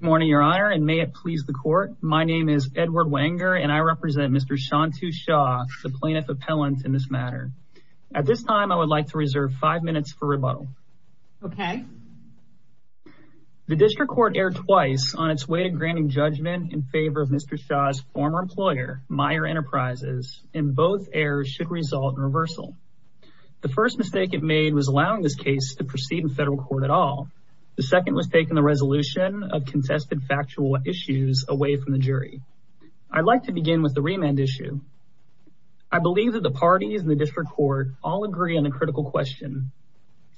Good morning, Your Honor, and may it please the Court. My name is Edward Wenger and I represent Mr. Shantu Shah, the plaintiff appellant in this matter. At this time, I would like to reserve five minutes for rebuttal. Okay. The District Court erred twice on its way to granting judgment in favor of Mr. Shah's former employer, Meier Enterprises, and both errors should result in reversal. The first mistake it made was allowing this case to proceed in federal court at all. The second was taking the resolution of contested factual issues away from the jury. I'd like to begin with the remand issue. I believe that the parties in the District Court all agree on a critical question,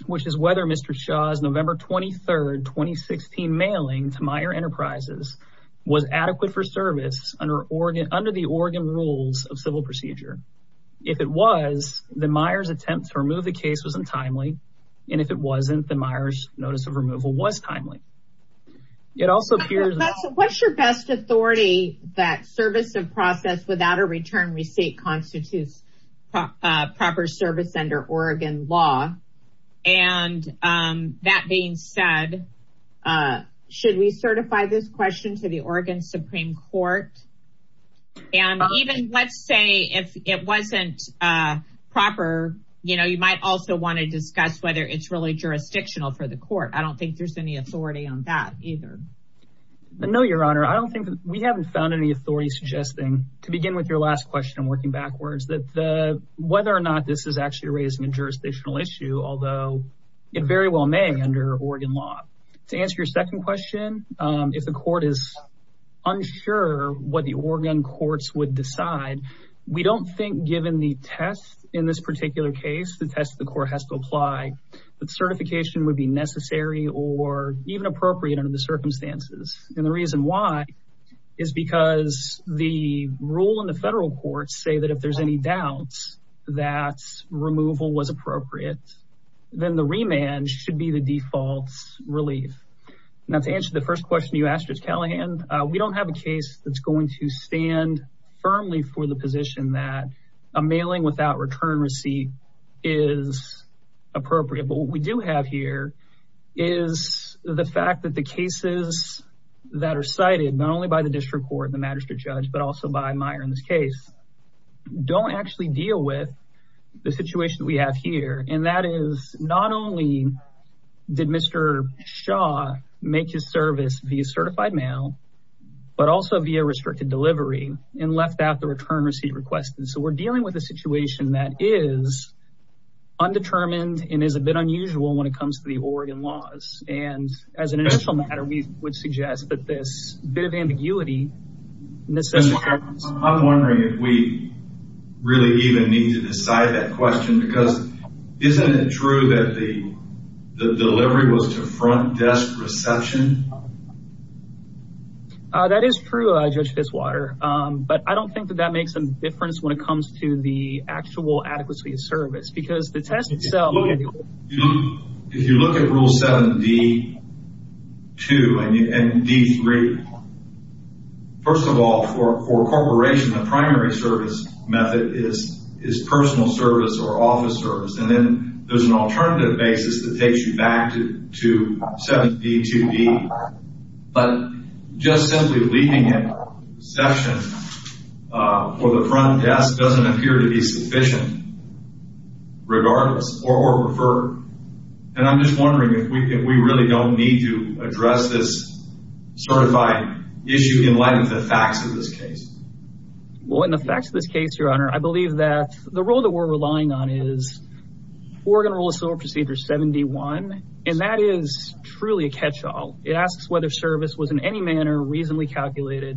which is whether Mr. Shah's November 23, 2016 mailing to Meier Enterprises was adequate for service under the Oregon rules of civil procedure. If it was, then Meier's attempt to remove the case was untimely. If it wasn't, then Meier's notice of removal was timely. What's your best authority that service of process without a return receipt constitutes proper service under Oregon law? That being said, should we certify this question to the Oregon District Court? I don't think there's any authority on that either. No, Your Honor. We haven't found any authority suggesting, to begin with your last question, working backwards, that whether or not this is actually raising a jurisdictional issue, although it very well may under Oregon law. To answer your second question, if the court is unsure what the test of the court has to apply, certification would be necessary or even appropriate under the circumstances. The reason why is because the rule in the federal courts say that if there's any doubts that removal was appropriate, then the remand should be the default relief. Now, to answer the first question you asked, Judge Callahan, we don't have a case that's going to be appropriate, but what we do have here is the fact that the cases that are cited, not only by the District Court and the Magistrate Judge, but also by Meier in this case, don't actually deal with the situation that we have here. That is, not only did Mr. Shaw make his service via certified mail, but also via restricted delivery and left out the return request. So we're dealing with a situation that is undetermined and is a bit unusual when it comes to the Oregon laws. And as an initial matter, we would suggest that this bit of ambiguity Mr. Harris, I'm wondering if we really even need to decide that question because isn't it true that the delivery was to front desk reception? That is true, Judge Fitzwater, but I don't think that that makes a difference when it comes to the actual adequacy of service, because the test itself... If you look at Rule 7D2 and D3, first of all, for a corporation, the primary service method is personal service or office service. And then there's an alternative basis that takes you back to 7D2D. But just simply leaving it at reception for the front desk doesn't appear to be sufficient regardless or preferred. And I'm just wondering if we really don't need to address this certified issue in light of the facts of this case. Well, in the facts of this case, Your Honor, I believe that the rule that we're relying on is Oregon Rule of Civil Procedure 7D1, and that is truly a catch-all. It asks whether service was in any manner reasonably calculated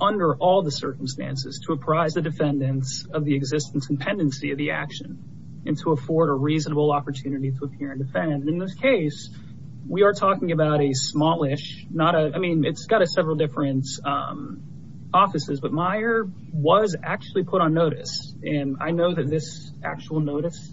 under all the circumstances to apprise the defendants of the existence and pendency of the action and to afford a reasonable opportunity to appear and defend. In this case, we are talking about a smallish, not a... I mean, it's got several different offices, but Meyer was actually put on notice. And I know that this actual notice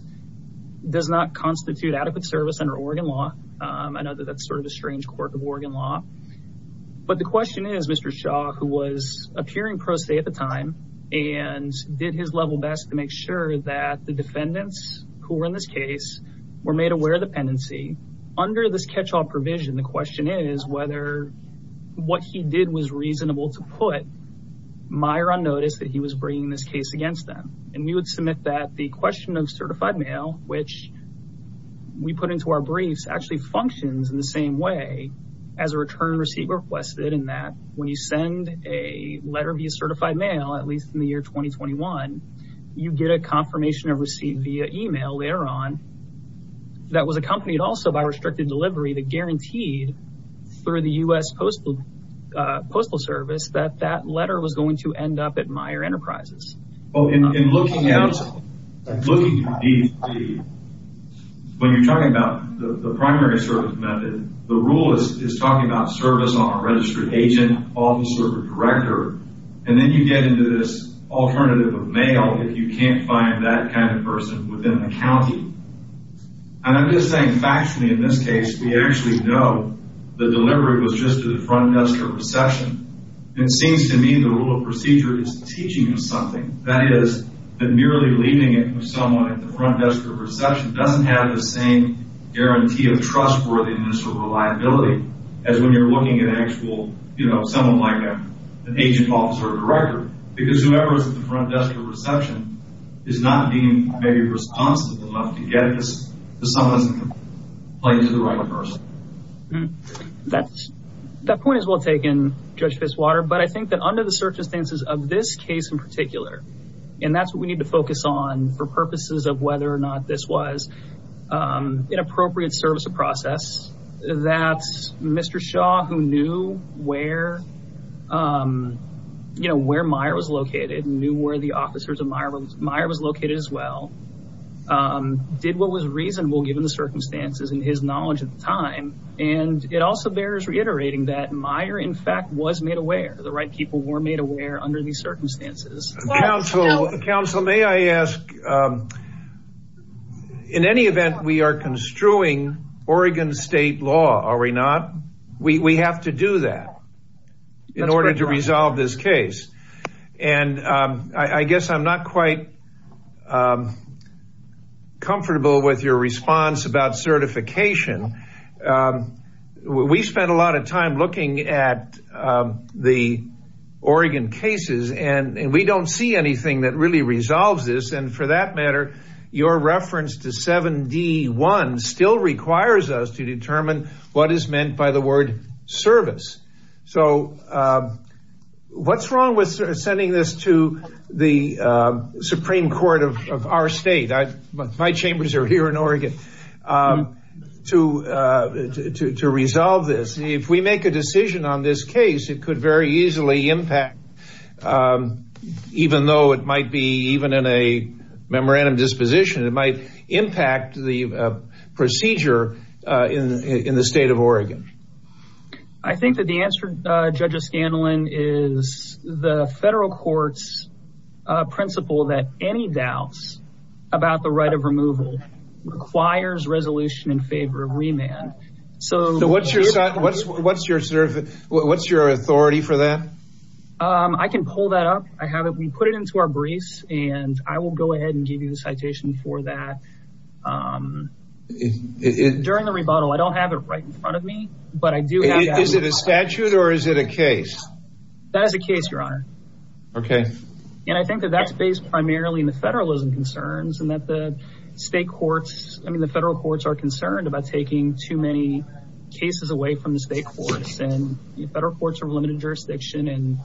does not constitute adequate service under Oregon law. I know that that's sort of a strange quirk of Oregon law. But the question is, Mr. Shaw, who was appearing pro se at the time and did his level best to make sure that the defendants who were in this case were made aware of the pendency, under this catch-all provision, the question is whether what he did was reasonable to put Meyer on notice that he was bringing this case against them. And we would submit that the question of certified mail, which we put into our briefs, actually functions in the same way as a return receipt requested in that when you send a letter via certified mail, at least in the year 2021, you get a confirmation of receipt via email later on that was accompanied also by restricted delivery that guaranteed, through the U.S. Postal Service, that that letter was going to end up at Meyer Enterprises. When you're talking about the primary service method, the rule is talking about service on a registered agent, officer, or director. And then you get into this alternative of mail if you can't find that kind of person within the county. And I'm just saying factually in this case, we actually know the delivery was just to the front desk at reception. It seems to me the rule of procedure is teaching us something. That is, that merely leaving it with someone at the front desk at reception doesn't have the same guarantee of trustworthiness or reliability as when you're looking at actual, you know, someone like an agent, officer, or director, who is not being maybe responsible enough to get this to someone who isn't playing to the right person. That point is well taken, Judge Fitzwater, but I think that under the circumstances of this case in particular, and that's what we need to focus on for purposes of whether or not this was an appropriate service or process, that Mr. Shaw, who knew where, you know, where Meyer was located as well, did what was reasonable given the circumstances and his knowledge at the time. And it also bears reiterating that Meyer, in fact, was made aware. The right people were made aware under these circumstances. Counselor, may I ask, in any event, we are construing Oregon state law, are we not? We have to do that in order to resolve this case. And I guess I'm not quite comfortable with your response about certification. We spent a lot of time looking at the Oregon cases, and we don't see anything that really resolves this. And for that matter, your reference to 7D1 still requires us to determine what is meant by the word service. So what's wrong with sending this to the Supreme Court of our state? My chambers are here in Oregon to resolve this. If we make a decision on this case, it could very easily impact, even though it might be even in a memorandum disposition, it might impact the procedure in the state of Oregon. I think that the answer, Judge O'Scanlan, is the federal court's principle that any doubts about the right of removal requires resolution in favor of remand. So what's your authority for that? I can pull that up. We put it into our briefs, and I will go ahead and give you the citation for that. During the rebuttal, I don't have it right in front of me. Is it a statute or is it a case? That is a case, Your Honor. Okay. And I think that that's based primarily on the federalism concerns and that the federal courts are concerned about taking too many cases away from the state courts. Federal courts are a limited jurisdiction, and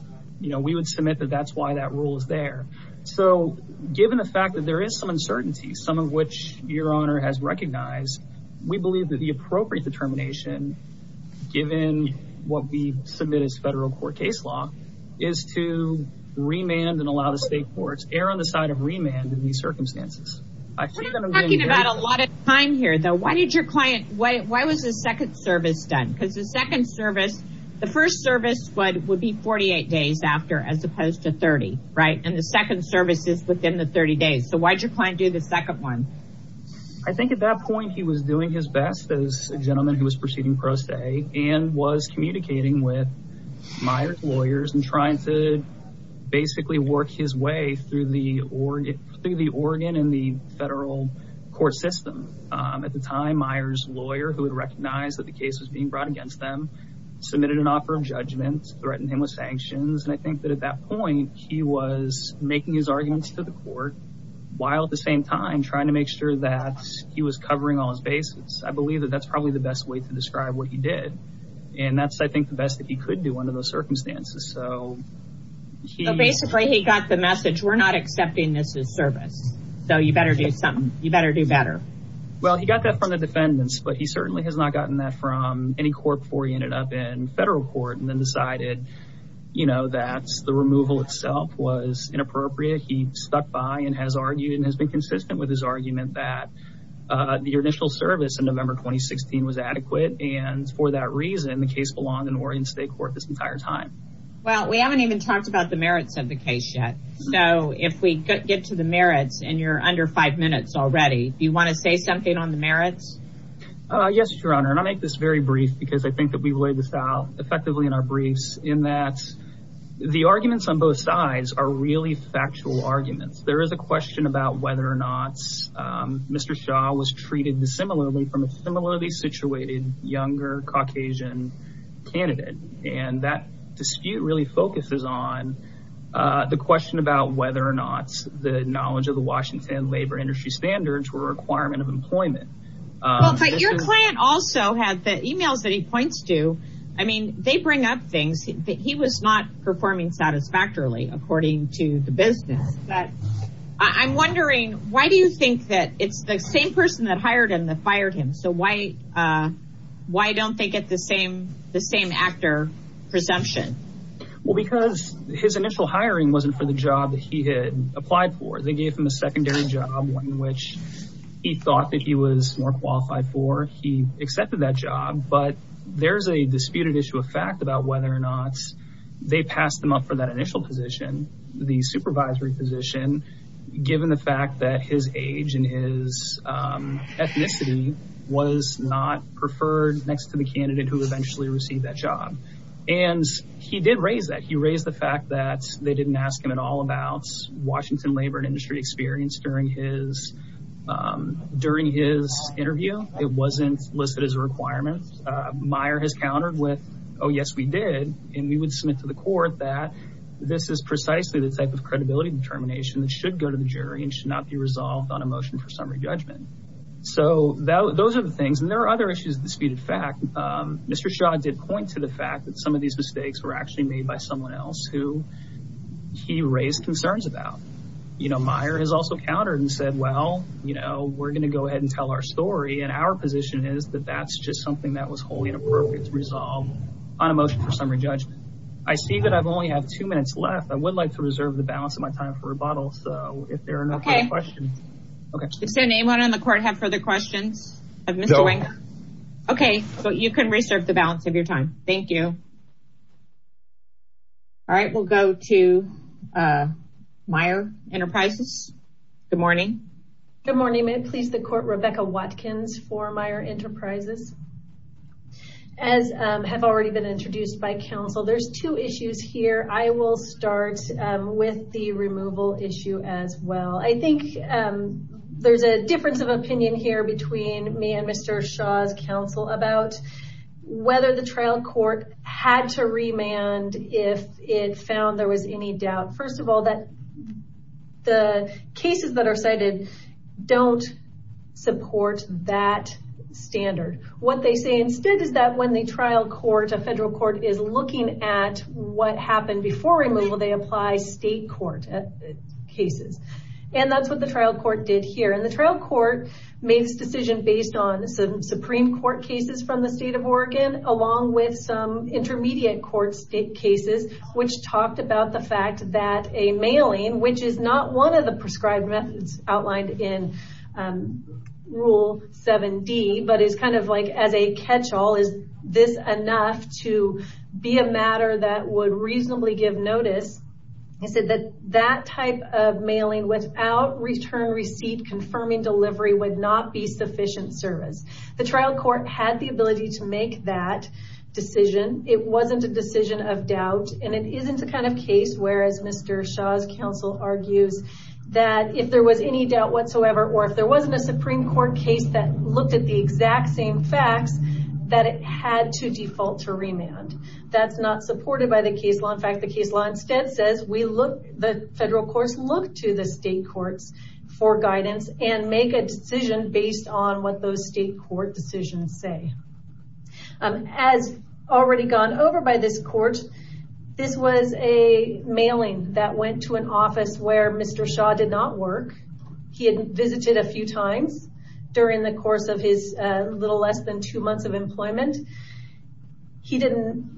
we would submit that that's why that rule is there. So given the fact that there is some uncertainty, some of which Your Honor has recognized, we believe that the appropriate determination, given what we submit as federal court case law, is to remand and allow the state courts, err on the side of remand in these circumstances. We're not talking about a lot of time here, though. Why did your client, why was the second service done? Because the second service, the first service would be 48 days after as opposed to 30, right? And the second service is within the 30 days. So why did your client do the second one? I think at that point, he was doing his best as a gentleman who was proceeding pro se and was communicating with lawyers and trying to basically work his way through the organ in the federal court system. At the time, Meyer's lawyer, who had recognized that the case was being brought against them, submitted an offer of judgment, threatened him with sanctions. And I think that at that point, he was making his arguments to the court while at the same time trying to make sure that he was covering all his bases. I believe that that's probably the best way to describe what he did. And that's, I think, the best that he could do under those circumstances. So basically, he got the message, we're not accepting this as service. So you better do something. You better do better. Well, he got that from the defendants, but he certainly has not gotten that from any court before he ended up in federal court and then decided, you know, that the removal itself was inappropriate. He stuck by and has argued and has been consistent with his argument that the initial service in November 2016 was adequate. And for that reason, the case belonged in Oregon State Court this entire time. Well, we haven't even talked about the merits of the case yet. So if we get to the merits, and you're under five minutes already, do you want to say something on the merits? Yes, Your Honor. And I make this very brief because I think that we've laid this out effectively in our briefs in that the arguments on both sides are really factual arguments. There is a question about whether or not Mr. Shah was treated dissimilarly from a similarly situated younger Caucasian candidate. And that dispute really focuses on the question about whether or not the knowledge of the Washington labor industry standards were a requirement of employment. Well, but your client also had the emails that he points to. I mean, they bring up things that he was not performing satisfactorily, according to the business. But I'm wondering, why do you think that it's the same person that hired him that fired him? So why don't they get the same actor presumption? Well, because his initial hiring wasn't for the job that he had applied for. They gave him a secondary job, one which he thought that he was more qualified for. He accepted that job, but there's a disputed issue of fact about whether or not they passed him up for that initial position, the supervisory position, given the fact that his age and his ethnicity was not preferred next to the candidate who eventually received that job. And he did raise that. He raised the fact that they didn't ask him at all about Washington labor industry experience during his during his interview. It wasn't listed as a requirement. Meyer has countered with, oh, yes, we did. And we would submit to the court that this is precisely the type of credibility determination that should go to the jury and should not be resolved on a motion for summary judgment. So those are the things. And there are other issues of disputed fact. Mr. Shaw did point to the fact that some of these mistakes were actually made by someone else who he raised concerns about. You know, Meyer has also countered and said, well, you know, we're going to go ahead and tell our story. And our position is that that's just something that was wholly inappropriate to resolve on a motion for summary judgment. I see that I've only had two minutes left. I would like to reserve the balance of my time for rebuttal. So if there are no questions. Does anyone on the court have further questions of Mr. Wenger? Okay. So you can reserve the balance of your time. Thank you. All right, we'll go to Meyer Enterprises. Good morning. Good morning. May it please the court, Rebecca Watkins for Meyer Enterprises. As have already been introduced by counsel, there's two issues here. I will start with the removal issue as well. I think there's a difference of opinion here between me and Mr. Shaw's counsel about whether the trial court had to remand if it found there was any doubt. First of all, that the cases that are cited don't support that standard. What they say instead is that when the trial court, a federal court, is looking at what happened before removal, they apply state court cases. And that's what trial court did here. And the trial court made this decision based on some Supreme Court cases from the state of Oregon, along with some intermediate court cases, which talked about the fact that a mailing, which is not one of the prescribed methods outlined in Rule 7D, but it's kind of like as a catch-all, is this enough to be a matter that would reasonably give notice. They said that that type of mailing without return receipt confirming delivery would not be sufficient service. The trial court had the ability to make that decision. It wasn't a decision of doubt, and it isn't the kind of case where, as Mr. Shaw's counsel argues, that if there was any doubt whatsoever, or if there wasn't a Supreme Court case that looked at the exact same That's not supported by the case law. In fact, the case law instead says the federal courts look to the state courts for guidance and make a decision based on what those state court decisions say. As already gone over by this court, this was a mailing that went to an office where Mr. Shaw did not work. He had visited a few times during the course of his little less than two months of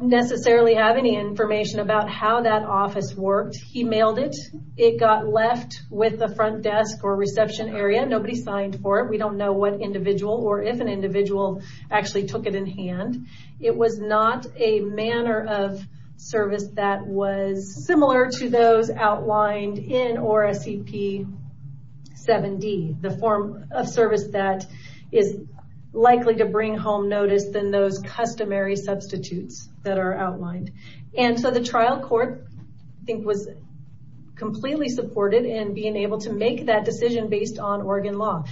necessarily have any information about how that office worked. He mailed it. It got left with the front desk or reception area. Nobody signed for it. We don't know what individual or if an individual actually took it in hand. It was not a manner of service that was similar to those outlined in ORA CP 7D, the form of service that is likely to bring home notice than those customary substitutes that are outlined. The trial court was completely supported in being able to make that decision based on Oregon law.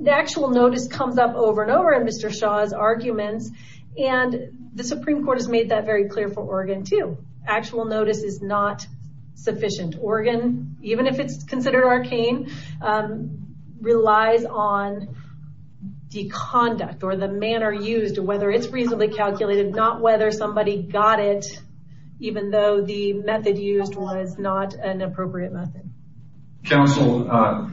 The actual notice comes up over and over in Mr. Shaw's arguments. The Supreme Court has made that very clear for Oregon too. Actual notice is not sufficient. Oregon, even if it's considered arcane, relies on deconduct or the manner used, whether it's reasonably calculated, not whether somebody got it, even though the method used was not an appropriate method. Counsel,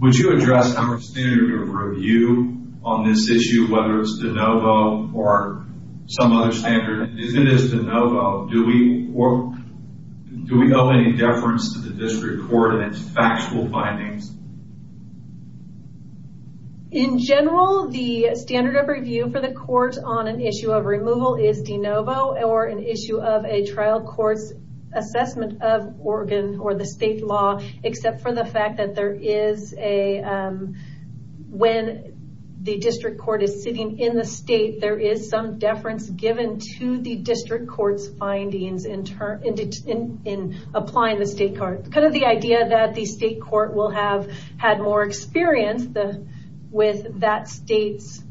would you address our standard of review on this issue, whether it's de novo or some other standard? If it is de novo, do we owe any deference to the court on an issue of removal is de novo or an issue of a trial court's assessment of Oregon or the state law, except for the fact that when the district court is sitting in the state, there is some deference given to the district court's findings in applying the state card. The idea that the state court will have had more experience with that state's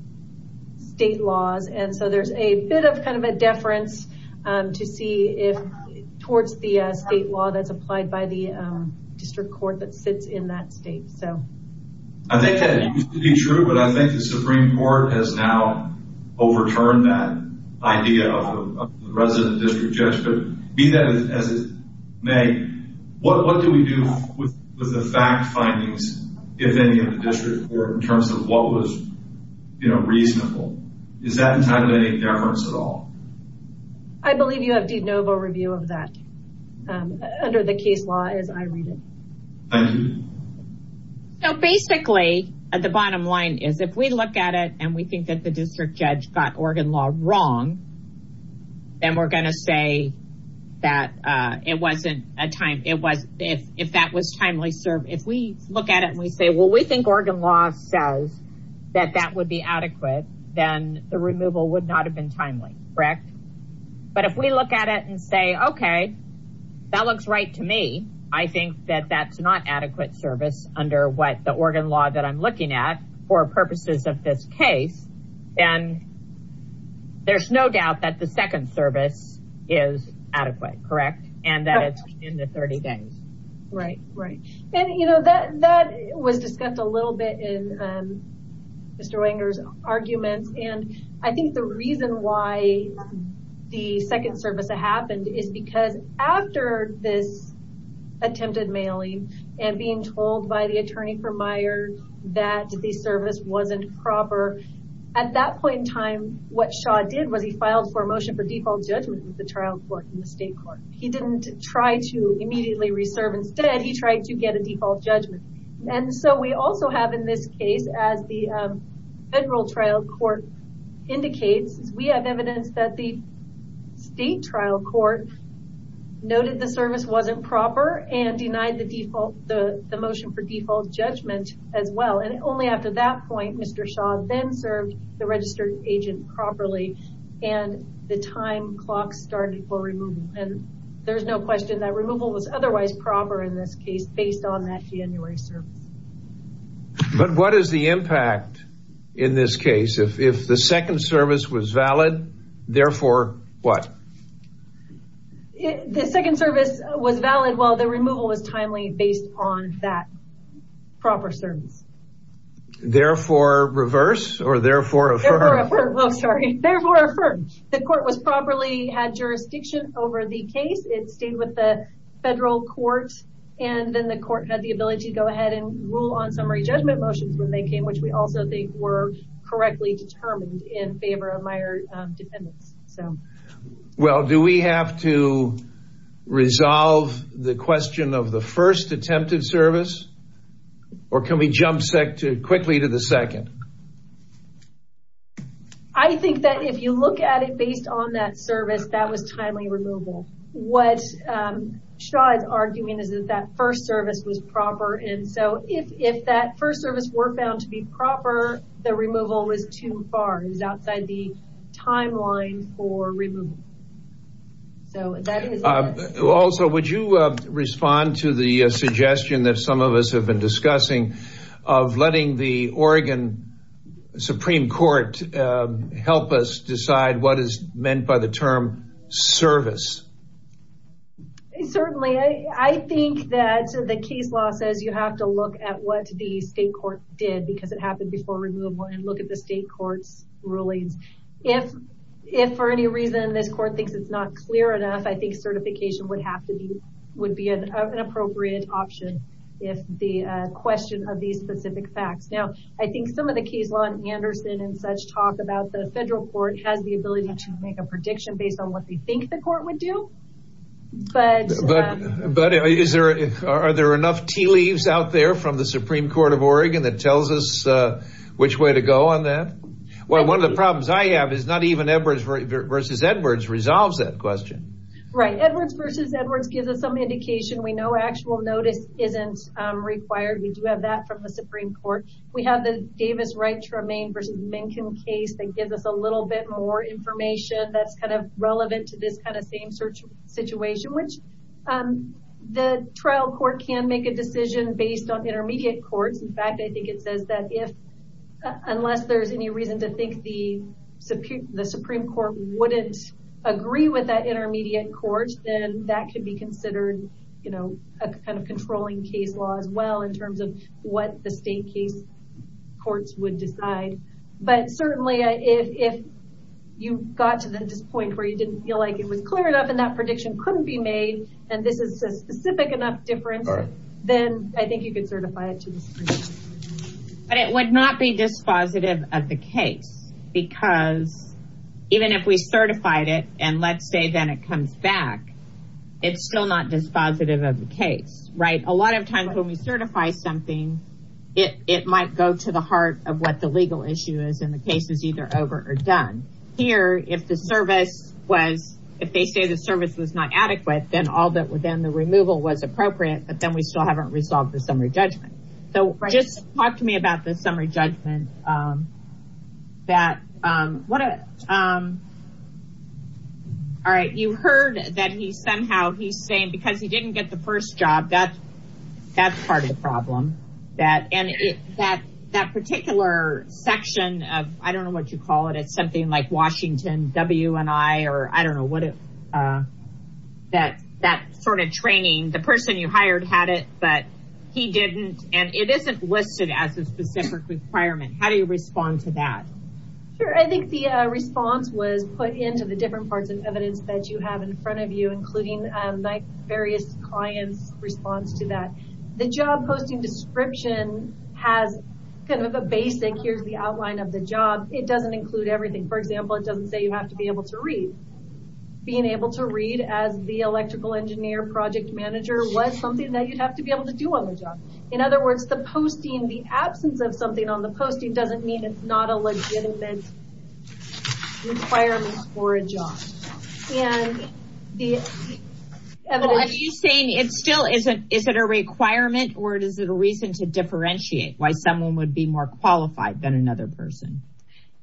state laws. There's a bit of a deference towards the state law that's applied by the district court that sits in that state. I think that used to be true, but I think the Supreme Court, what do we do with the fact findings, if any, of the district court in terms of what was reasonable? Is that entitled to any deference at all? I believe you have de novo review of that under the case law as I read it. Thank you. So basically, the bottom line is if we look at it and we think that the district judge got Oregon law wrong, then we're going to say that it wasn't a timely service. If we look at it and we say, well, we think Oregon law says that that would be adequate, then the removal would not have been timely, correct? But if we look at it and say, okay, that looks right to me. I think that that's not adequate service under what the Oregon law that I'm looking at for purposes of this case, then there's no doubt that the second service is adequate, correct? And that it's in the 30 things. Right, right. And that was discussed a little bit in Mr. Wenger's arguments. And I think the reason why the second service happened is because after this attempted mailing and being told by the attorney for Meyer that the service wasn't proper, at that point in time, what Shaw did was he filed for a motion for default judgment with the trial court in the state court. He didn't try to immediately reserve. Instead, he tried to get a default judgment. And so we also have in this as the federal trial court indicates, we have evidence that the state trial court noted the service wasn't proper and denied the motion for default judgment as well. And only after that point, Mr. Shaw then served the registered agent properly. And the time clock started for removal. And there's no question that removal was otherwise proper in this case based on that January service. But what is the impact in this case? If the second service was valid, therefore, what? The second service was valid while the removal was timely based on that proper service. Therefore, reverse or therefore, therefore, the court was properly had jurisdiction over the case. It stayed with the federal court and then the court had the ability to go ahead and rule on summary judgment motions when they came, which we also think were correctly determined in favor of Meyer defendants. So well, do we have to resolve the question of the first attempted service or can we jump set to quickly to the second? I think that if you look at it based on that service, that was timely removal. What Shaw is arguing is that that first service was proper. And so if that first service were found to be proper, the removal was too far. It was outside the timeline for removal. So that is also, would you respond to the suggestion that some of us have been discussing of letting the Oregon Supreme Court help us decide what is meant by the term service? Certainly, I think that the case law says you have to look at what the state court did because it happened before removal and look at the state court's rulings. If for any reason this court thinks it's not clear enough, I think certification would have to be would be an appropriate option. If the question of these specific facts. Now, I think some of the case law and Anderson and such talk about the federal court has the ability to make a prediction based on what they think the court would do. But is there, are there enough tea leaves out there from the Supreme Court of Oregon that tells us which way to go on that? Well, one of the problems I have is not even Edwards versus Edwards resolves that question. Right. Edwards versus Edwards gives us some indication. We know actual notice isn't required. We do have that from the Supreme Court. We have the Davis Wright Tremaine versus Mencken case that gives us a little bit more information that's kind of relevant to this kind of same search situation, which the trial court can make a decision based on intermediate courts. In fact, I think it says that if, unless there's any reason to think the the Supreme Court wouldn't agree with that intermediate courts, then that could be a kind of controlling case law as well in terms of what the state case courts would decide. But certainly, if you got to this point where you didn't feel like it was clear enough and that prediction couldn't be made, and this is a specific enough difference, then I think you could certify it to the Supreme Court. But it would not be dispositive of the case because even if we certified it and let's say then it comes back, it's still not dispositive of the case. Right. A lot of times when we certify something, it might go to the heart of what the legal issue is and the case is either over or done. Here, if the service was, if they say the service was not adequate, then the removal was appropriate, but then we still haven't resolved the summary judgment. So just talk to me about the summary judgment. All right. You heard that he somehow, he's saying because he didn't get the first job, that's part of the problem. That particular section of, I don't know what you call it, it's something like Washington W&I or I don't know what, that sort of training, the person you hired had it, but he didn't and it isn't listed as a specific requirement. How do you respond to that? Sure. I think the response was put into the different parts of evidence that you have in front of you, including various clients' response to that. The job posting description has kind of a basic, here's the outline of the job. It doesn't include everything. For example, it doesn't say you have to be able to read. Being able to read as the electrical engineer, project manager was something that you'd have to be able to do on the job. In other words, the absence of something on the posting doesn't mean it's not a legitimate requirement for a job. Are you saying it still isn't a requirement or is it a reason to differentiate why someone would be more qualified than another person?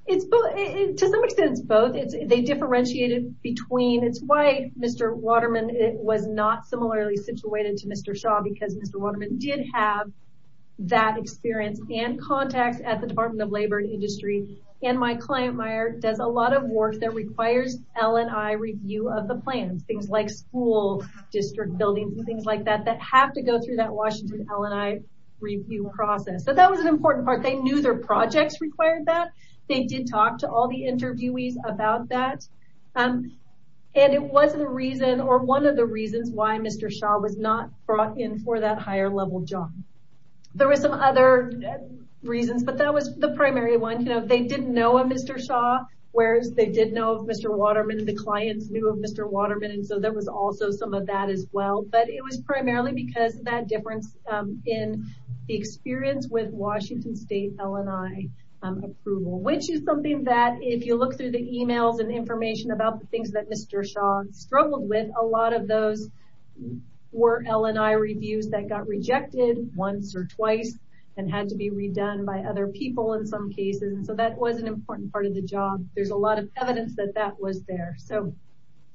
To some extent, it's both. They differentiate it between. It's why Mr. Waterman was not similarly situated to Mr. Shaw because Mr. Waterman did have that experience and contacts at the Department of Labor and Industry. My client, Meyer, does a lot of work that requires L&I review of the plans, things like school, district buildings, and things like that that have to go through that Washington L&I review process. That was an important part. They knew their projects required that. They did talk to all the interviewees about that. It wasn't a reason or one of the reasons why Mr. Shaw was not brought in for that higher level job. There were some other reasons, but that was the primary one. They didn't know a Mr. Shaw, whereas they did know of Mr. Waterman and the clients knew of Mr. Waterman. There was also some of that as well. It was primarily because of that difference in the experience with Washington State L&I approval, which is something that if you look through the emails and information about the things that Mr. Shaw struggled with, a lot of those were L&I reviews that got rejected once or twice and had to be redone by other people in some cases. That was an important part of the job. There's a lot of evidence that that was there.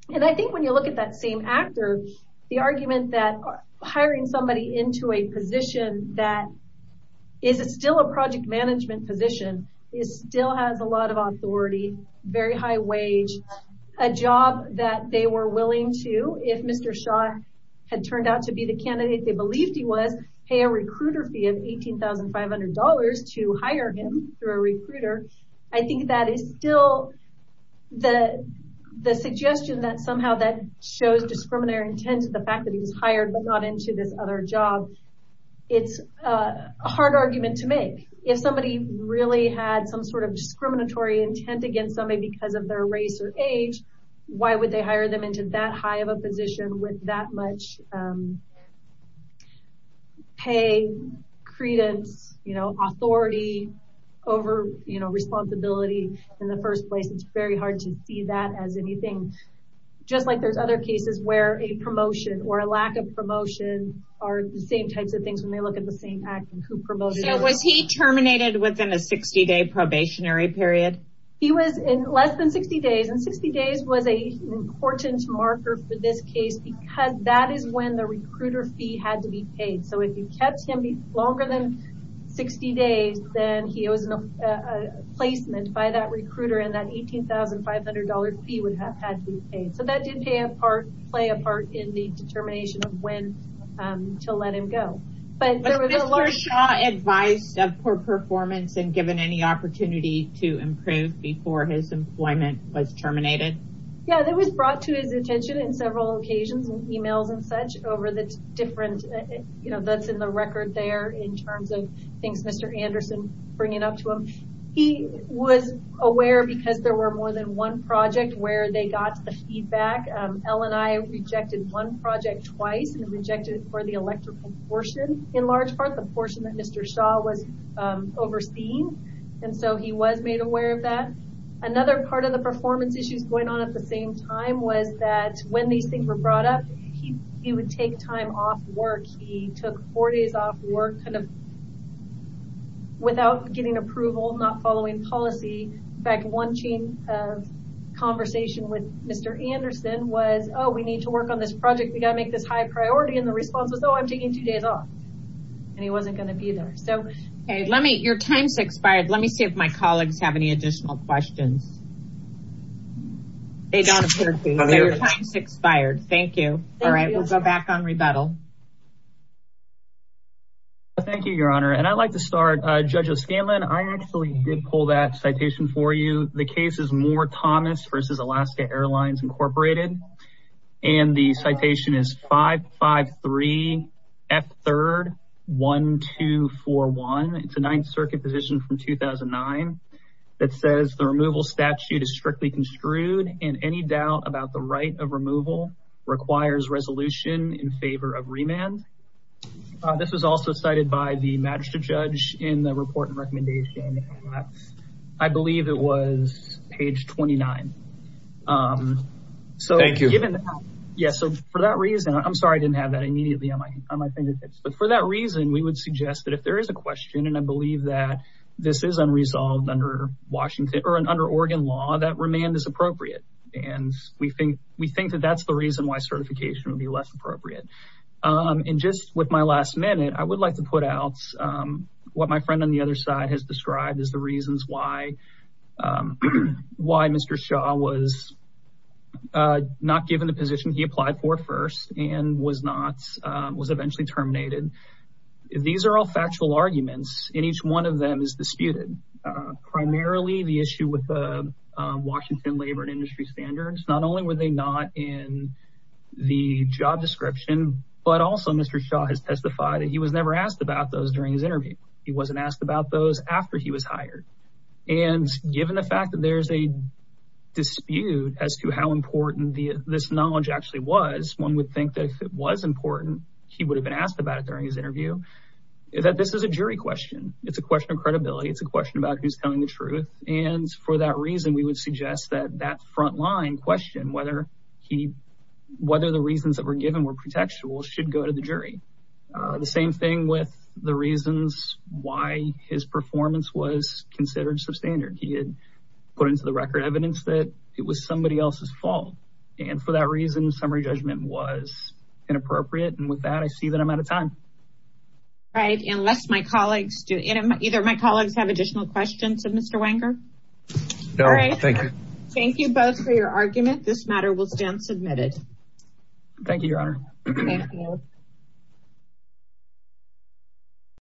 When you look at that same actor, the argument that hiring somebody into a position that is still a project management position still has a lot of authority, very high wage, a job that they were willing to, if Mr. Shaw had turned out to be the candidate they believed he was, pay a recruiter fee of $18,500 to hire him through a recruiter. I think that is still the suggestion that somehow that shows discriminatory intent to the fact that he was hired but not into this other job. It's a hard argument to make. If somebody really had some sort of discriminatory intent against somebody because of their race or age, why would they hire them into that high of a position with that much pay, credence, authority over responsibility in the first place? It's very hard to see that as a promotion or the same types of things when they look at the same actor. So was he terminated within a 60-day probationary period? He was in less than 60 days. 60 days was an important marker for this case because that is when the recruiter fee had to be paid. If you kept him longer than 60 days, then it was a placement by that recruiter and that $18,500 fee would have had to be paid. That did play a part in the determination of when to let him go. Was Mr. Shaw advised of poor performance and given any opportunity to improve before his employment was terminated? Yeah, that was brought to his attention in several occasions and emails and such over the different, that's in the record there in terms of things Mr. Anderson bringing up to him. He was aware because there were more than one project where they got the feedback. L&I rejected one project twice and rejected it for the electrical portion in large part, the portion that Mr. Shaw was overseeing. So he was made aware of that. Another part of the performance issues going on at the same time was that when these things were brought up, he would take time off work. He took four days off work without getting approval, not following policy. In fact, one chain of conversation with Mr. Anderson was, oh, we need to work on this project. We got to make this high priority. And the response was, oh, I'm taking two days off. And he wasn't going to be there. So let me, your time's expired. Let me see if my colleagues have any additional questions. Thank you. All right. We'll go back on rebuttal. Thank you, your honor. And I'd like to start, Judge O'Scanlan, I actually did pull that citation for you. The case is Moore Thomas versus Alaska Airlines Incorporated. And the citation is 553 F3 1241. It's a ninth circuit position from 2009 that says the removal statute is strictly construed and any doubt about the right of remand. This was also cited by the magistrate judge in the report and recommendation. I believe it was page 29. Thank you. Yeah. So for that reason, I'm sorry, I didn't have that immediately on my fingertips. But for that reason, we would suggest that if there is a question, and I believe that this is unresolved under Washington or under Oregon law, that remand is appropriate. And we think that that's the And just with my last minute, I would like to put out what my friend on the other side has described as the reasons why Mr. Shaw was not given the position he applied for first and was eventually terminated. These are all factual arguments, and each one of them is disputed. Primarily the issue with the Washington labor and industry standards. Not only were they not in the job description, but also Mr. Shaw has testified that he was never asked about those during his interview. He wasn't asked about those after he was hired. And given the fact that there's a dispute as to how important this knowledge actually was, one would think that if it was important, he would have been asked about it during his interview. That this is a jury question. It's a question of credibility. It's a question about who's telling the truth. And for that whether the reasons that were given were protectual should go to the jury. The same thing with the reasons why his performance was considered substandard. He had put into the record evidence that it was somebody else's fault. And for that reason, summary judgment was inappropriate. And with that, I see that I'm out of time. All right. Unless my colleagues do either my colleagues have additional questions of Mr. Wenger. No, thank you. Thank you both for your argument. This matter will stand submitted. Thank you, Your Honor.